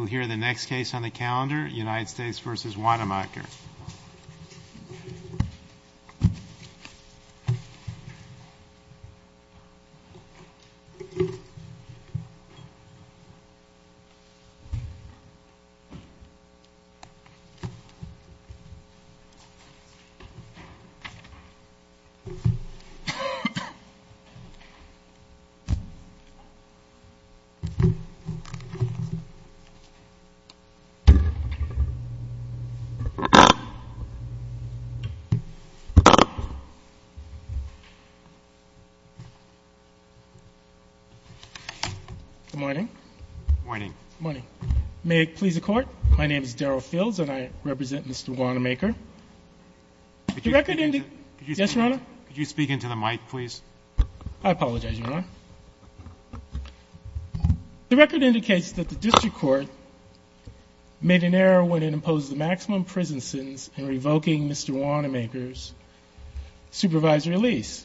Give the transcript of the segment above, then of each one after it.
We'll hear the next case on the calendar, United States v. Weinemeyer. Good morning. May it please the Court, my name is Daryl Fields and I represent Mr. Weinemeyer. Could you speak into the mic, please? I apologize, Your Honor. The record indicates that the district court made an error when it imposed the maximum prison sentence in revoking Mr. Weinemeyer's supervisory lease.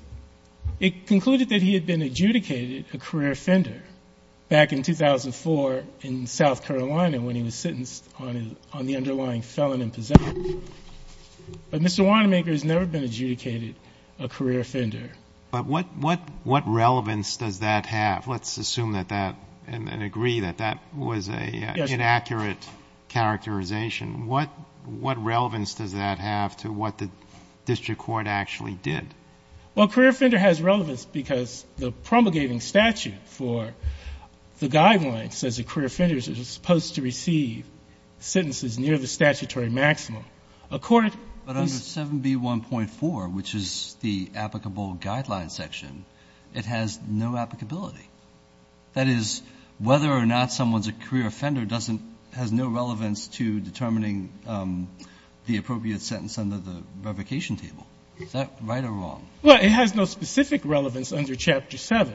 It concluded that he had been adjudicated a career offender back in 2004 in South Carolina when he was sentenced on the underlying felon and possession. But Mr. Weinemeyer has never been adjudicated a career offender. But what relevance does that have? Let's assume and agree that that was an inaccurate characterization. What relevance does that have to what the district court actually did? Well, a career offender has relevance because the promulgating statute for the guidelines says that career offenders are supposed to receive sentences near the statutory maximum. But under 7B1.4, which is the applicable guidelines section, it has no applicability. That is, whether or not someone's a career offender doesn't — has no relevance to determining the appropriate sentence under the revocation table. Is that right or wrong? Well, it has no specific relevance under Chapter 7,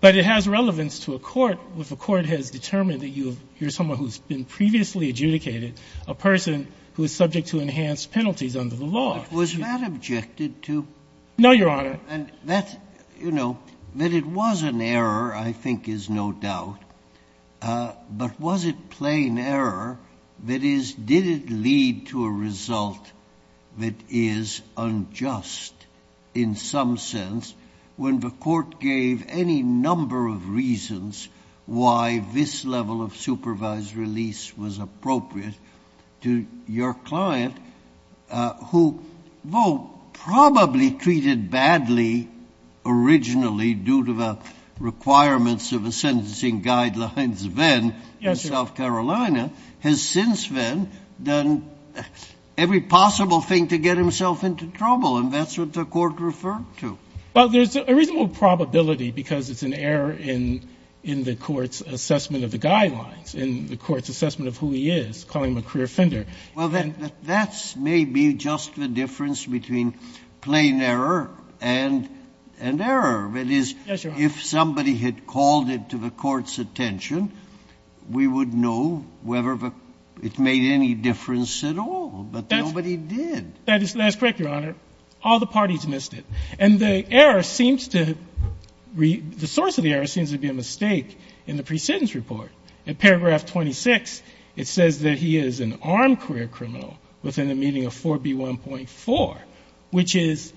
but it has relevance to a court where the court has determined that you're someone who's been previously adjudicated, a person who is subject to enhanced penalties under the law. Was that objected to? No, Your Honor. And that's — you know, that it was an error, I think, is no doubt. But was it plain error? That is, did it lead to a result that is unjust, in some sense, when the court gave any number of reasons why this level of supervised release was appropriate to your client, who, though probably treated badly originally due to the requirements of the sentencing guidelines then — Yes, Your Honor. — in South Carolina, has since then done every possible thing to get himself into trouble. And that's what the court referred to. Well, there's a reasonable probability because it's an error in the court's assessment of the guidelines, in the court's assessment of who he is, calling him a career offender. Well, that's maybe just the difference between plain error and error. That is — Yes, Your Honor. — if somebody had called it to the court's attention, we would know whether it made any difference at all. But nobody did. That's correct, Your Honor. All the parties missed it. And the error seems to — the source of the error seems to be a mistake in the precedence report. In paragraph 26, it says that he is an armed career criminal within the meaning of 4B1.4, which is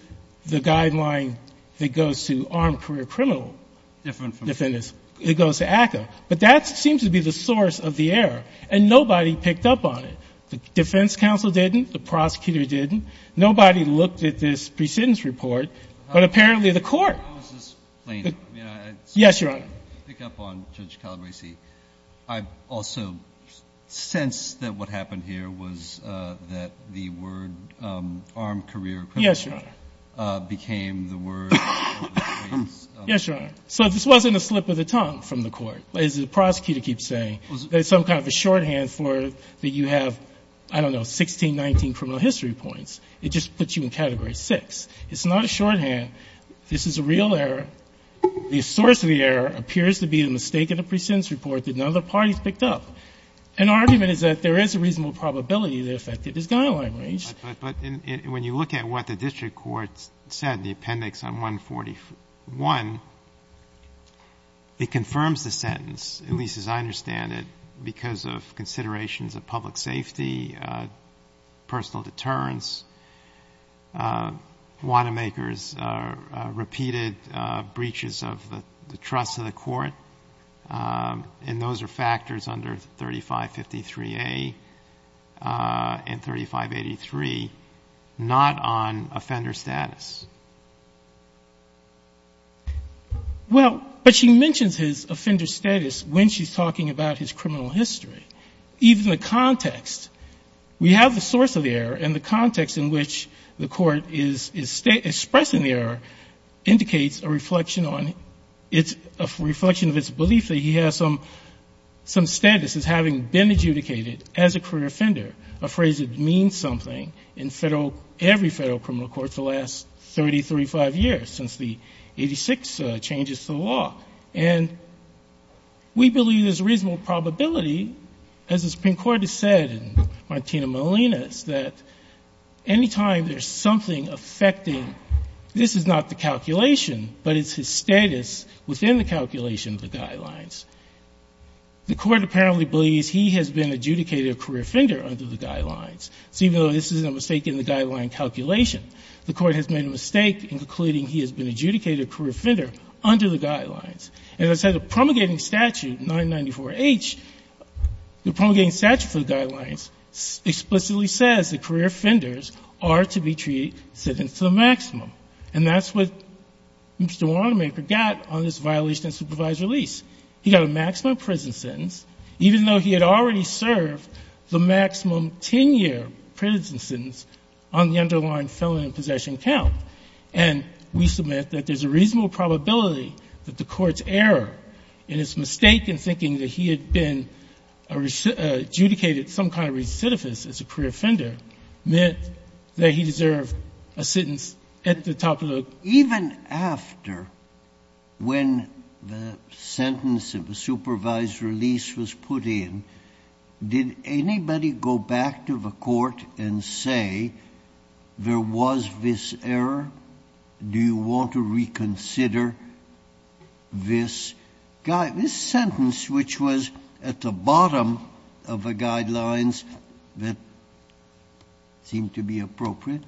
the guideline that goes to armed career criminal — Different from —— defendants. It goes to ACCA. But that seems to be the source of the error, and nobody picked up on it. The defense counsel didn't. The prosecutor didn't. Nobody looked at this precedence report, but apparently the court — How is this plain? I mean, I — Yes, Your Honor. To pick up on Judge Calabresi, I've also sensed that what happened here was that the word armed career criminal — Yes, Your Honor. — became the word — Yes, Your Honor. So this wasn't a slip of the tongue from the court. As the prosecutor keeps saying, there's some kind of a shorthand for — that you have, I don't know, 1619 criminal history points. It just puts you in Category 6. It's not a shorthand. This is a real error. The source of the error appears to be the mistake in the precedence report that none of the parties picked up. An argument is that there is a reasonable probability that it affected his guideline range. But when you look at what the district court said in the appendix on 141, it confirms the sentence, at least as I understand it, because of considerations of public safety, personal deterrence. Wanamaker's repeated breaches of the trust of the court, and those are factors under 3553A and 3583, not on offender status. Well, but she mentions his offender status when she's talking about his criminal history. Even the context. We have the source of the error, and the context in which the court is expressing the error indicates a reflection on — a reflection of its belief that he has some status as having been adjudicated as a career offender, a phrase that means something in every federal criminal court for the last 30, 35 years, since the 86 changes to the law. And we believe there's a reasonable probability, as the Supreme Court has said in Martina Molina's, that any time there's something affecting — this is not the calculation, but it's his status within the calculation of the guidelines. The court apparently believes he has been adjudicated a career offender under the guidelines. So even though this is a mistake in the guideline calculation, the court has made a mistake in concluding he has been adjudicated a career offender under the guidelines. And as I said, the promulgating statute, 994H, the promulgating statute for the guidelines explicitly says that career offenders are to be treated — sentenced to the maximum. And that's what Mr. Watermaker got on this violation of supervised release. He got a maximum prison sentence, even though he had already served the maximum 10-year prison sentence on the underlying felon in possession count. And we submit that there's a reasonable probability that the Court's error in its mistake in thinking that he had been adjudicated some kind of recidivist as a career offender meant that he deserved a sentence at the top of the — Even after, when the sentence of the supervised release was put in, did anybody go back to the court and say there was this error? Do you want to reconsider this sentence, which was at the bottom of the guidelines, that seemed to be appropriate?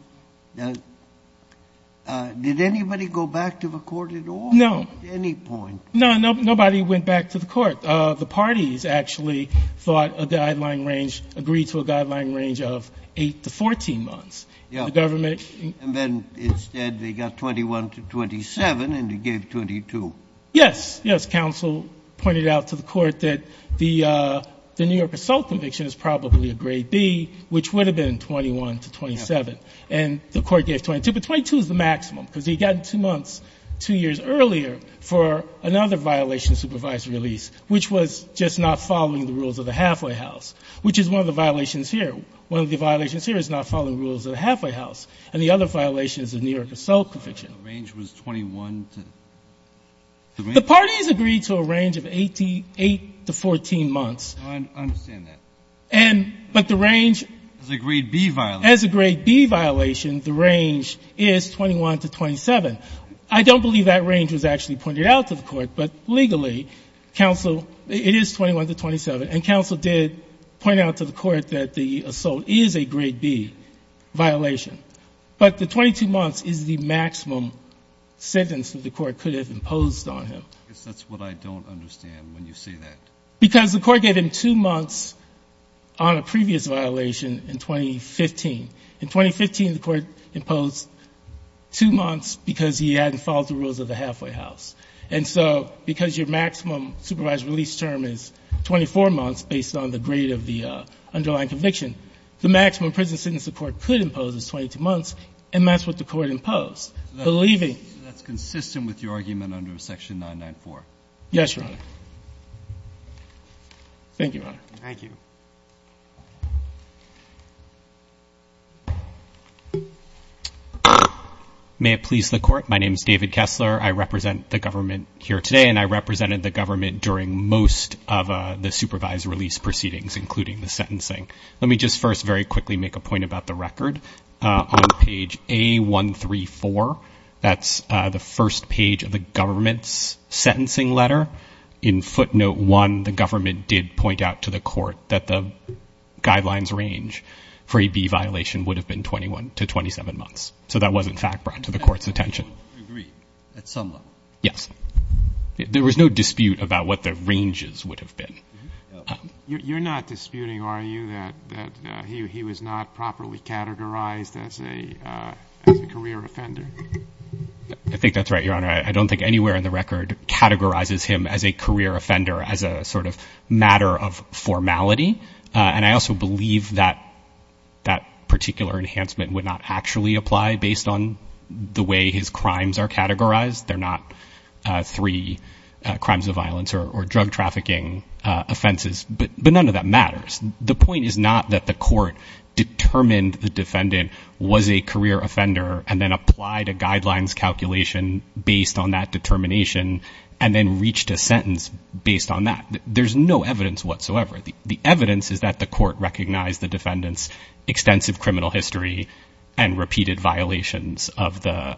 Did anybody go back to the court at all? No. At any point? No, nobody went back to the court. The parties actually thought a guideline range — agreed to a guideline range of 8 to 14 months. Yeah. The government — And then instead they got 21 to 27, and they gave 22. Yes. Yes, counsel pointed out to the court that the New York assault conviction is probably a grade B, which would have been 21 to 27. Yes. And the court gave 22. But 22 is the maximum, because he got two months, two years earlier for another violation of supervised release, which was just not following the rules of the halfway house, which is one of the violations here. One of the violations here is not following the rules of the halfway house. And the other violation is the New York assault conviction. The range was 21 to — The parties agreed to a range of 8 to 14 months. I understand that. But the range — As a grade B violation. As a grade B violation, the range is 21 to 27. I don't believe that range was actually pointed out to the court. But legally, counsel — it is 21 to 27. And counsel did point out to the court that the assault is a grade B violation. But the 22 months is the maximum sentence that the court could have imposed on him. I guess that's what I don't understand when you say that. Because the court gave him two months on a previous violation in 2015. In 2015, the court imposed two months because he hadn't followed the rules of the halfway house. And so because your maximum supervised release term is 24 months based on the grade of the underlying conviction, the maximum prison sentence the court could impose is 22 months, and that's what the court imposed. Believing — That's consistent with your argument under Section 994. Yes, Your Honor. Thank you, Your Honor. Thank you. May it please the court. My name is David Kessler. I represent the government here today, and I represented the government during most of the supervised release proceedings, including the sentencing. Let me just first very quickly make a point about the record. On page A134, that's the first page of the government's sentencing letter. In footnote 1, the government did point out to the court that the guidelines range for a B violation would have been 21 to 27 months. So that was, in fact, brought to the court's attention. I agree at some level. Yes. There was no dispute about what the ranges would have been. You're not disputing, are you, that he was not properly categorized as a career offender? I think that's right, Your Honor. I don't think anywhere in the record categorizes him as a career offender as a sort of matter of formality. And I also believe that that particular enhancement would not actually apply based on the way his crimes are categorized. They're not three crimes of violence or drug trafficking offenses. But none of that matters. The point is not that the court determined the defendant was a career offender and then applied a guidelines calculation based on that determination and then reached a sentence based on that. There's no evidence whatsoever. The evidence is that the court recognized the defendant's extensive criminal history and repeated violations of the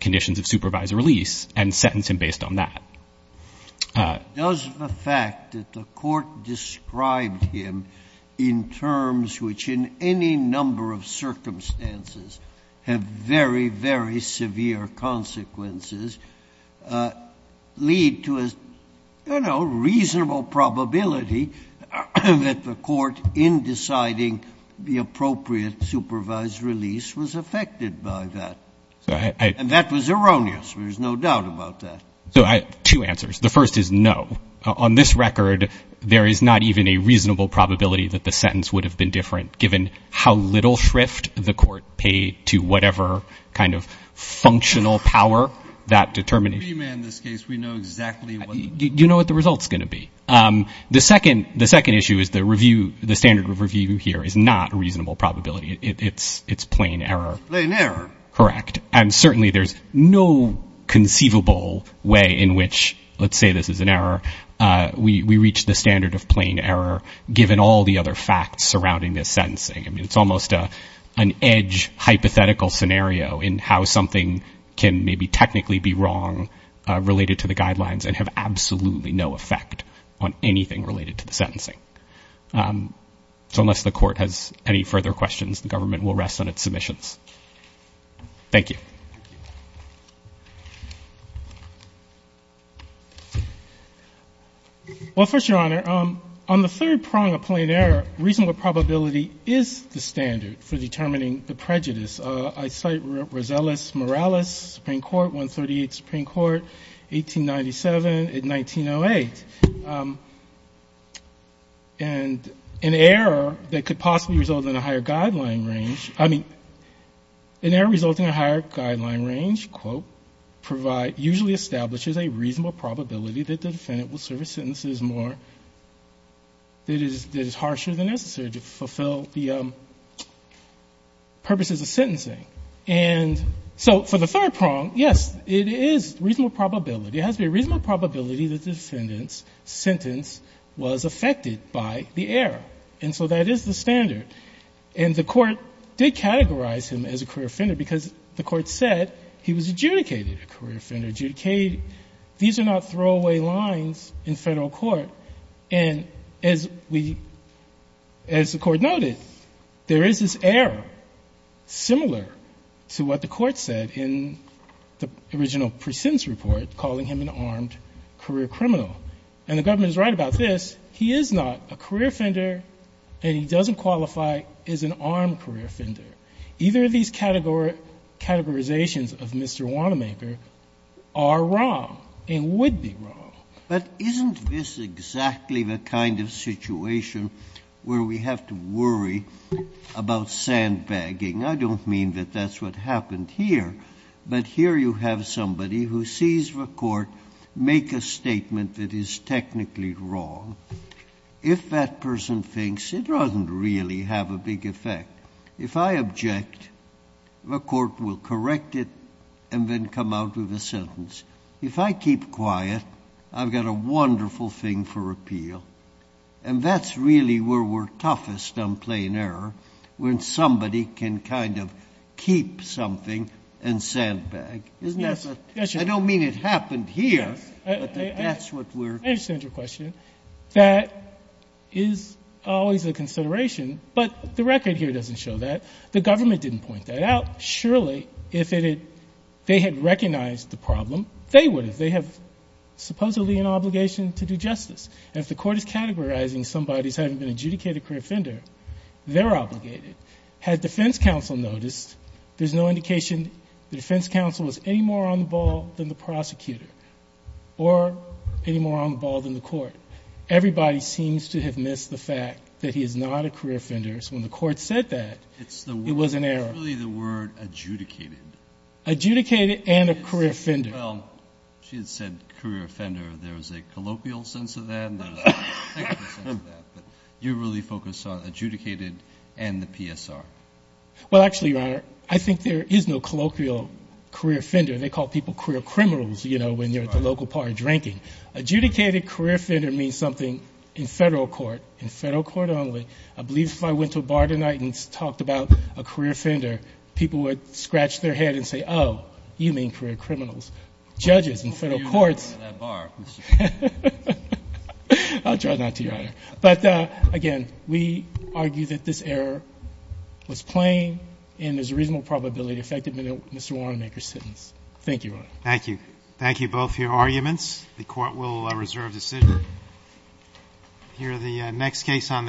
conditions of supervised release and sentenced him based on that. Does the fact that the court described him in terms which in any number of circumstances have very, very severe consequences lead to a, you know, reasonable probability that the court in deciding the appropriate supervised release was affected by that? And that was erroneous. There's no doubt about that. So I have two answers. The first is no. On this record, there is not even a reasonable probability that the sentence would have been different given how little shrift the court paid to whatever kind of functional power that determination. In this case, we know exactly what the result's going to be. The second issue is the standard review here is not a reasonable probability. It's plain error. Plain error. Correct. And certainly there's no conceivable way in which, let's say this is an error, we reach the standard of plain error given all the other facts surrounding this sentencing. I mean, it's almost an edge hypothetical scenario in how something can maybe technically be wrong related to the guidelines and have absolutely no effect on anything related to the sentencing. So unless the court has any further questions, the government will rest on its submissions. Thank you. Well, first, Your Honor, on the third prong of plain error, reasonable probability is the standard for determining the prejudice. I cite Rosellis Morales, Supreme Court, 138th Supreme Court, 1897 and 1908. And an error that could possibly result in a higher guideline range, I mean, an error resulting in a higher guideline range, quote, usually establishes a reasonable probability that the defendant will serve a sentence that is harsher than necessary to fulfill the purposes of sentencing. And so for the third prong, yes, it is reasonable probability. It has to be a reasonable probability that the defendant's sentence was affected by the error. And so that is the standard. And the Court did categorize him as a career offender because the Court said he was adjudicated a career offender. These are not throwaway lines in Federal court. And as the Court noted, there is this error similar to what the Court said in the original pre-sentence report calling him an armed career criminal. And the government is right about this. He is not a career offender and he doesn't qualify as an armed career offender. Either of these categorizations of Mr. Wanamaker are wrong and would be wrong. But isn't this exactly the kind of situation where we have to worry about sandbagging? I don't mean that that's what happened here. But here you have somebody who sees the Court make a statement that is technically wrong. If that person thinks, it doesn't really have a big effect. If I object, the Court will correct it and then come out with a sentence. If I keep quiet, I've got a wonderful thing for appeal. And that's really where we're toughest on plain error, when somebody can kind of keep something and sandbag. Isn't that the question? I don't mean it happened here, but that's what we're going to do. I understand your question. That is always a consideration. But the record here doesn't show that. The government didn't point that out. Surely, if they had recognized the problem, they would have. They have supposedly an obligation to do justice. And if the Court is categorizing somebody as having been an adjudicated career offender, they're obligated. Had defense counsel noticed, there's no indication the defense counsel was any more on the ball than the prosecutor or any more on the ball than the Court. Everybody seems to have missed the fact that he is not a career offender. So when the Court said that, it was an error. It's really the word adjudicated. Adjudicated and a career offender. Well, she had said career offender. There's a colloquial sense of that and there's a technical sense of that. But you really focus on adjudicated and the PSR. Well, actually, Your Honor, I think there is no colloquial career offender. They call people career criminals, you know, when they're at the local bar drinking. Adjudicated career offender means something in federal court, in federal court only. I believe if I went to a bar tonight and talked about a career offender, people would scratch their head and say, oh, you mean career criminals. Judges in federal courts. I'll try not to, Your Honor. But, again, we argue that this error was plain and there's a reasonable probability it affected Mr. Warrenmaker's sentence. Thank you, Your Honor. Thank you. Thank you both for your arguments. The Court will reserve decision. Here are the next case on the case.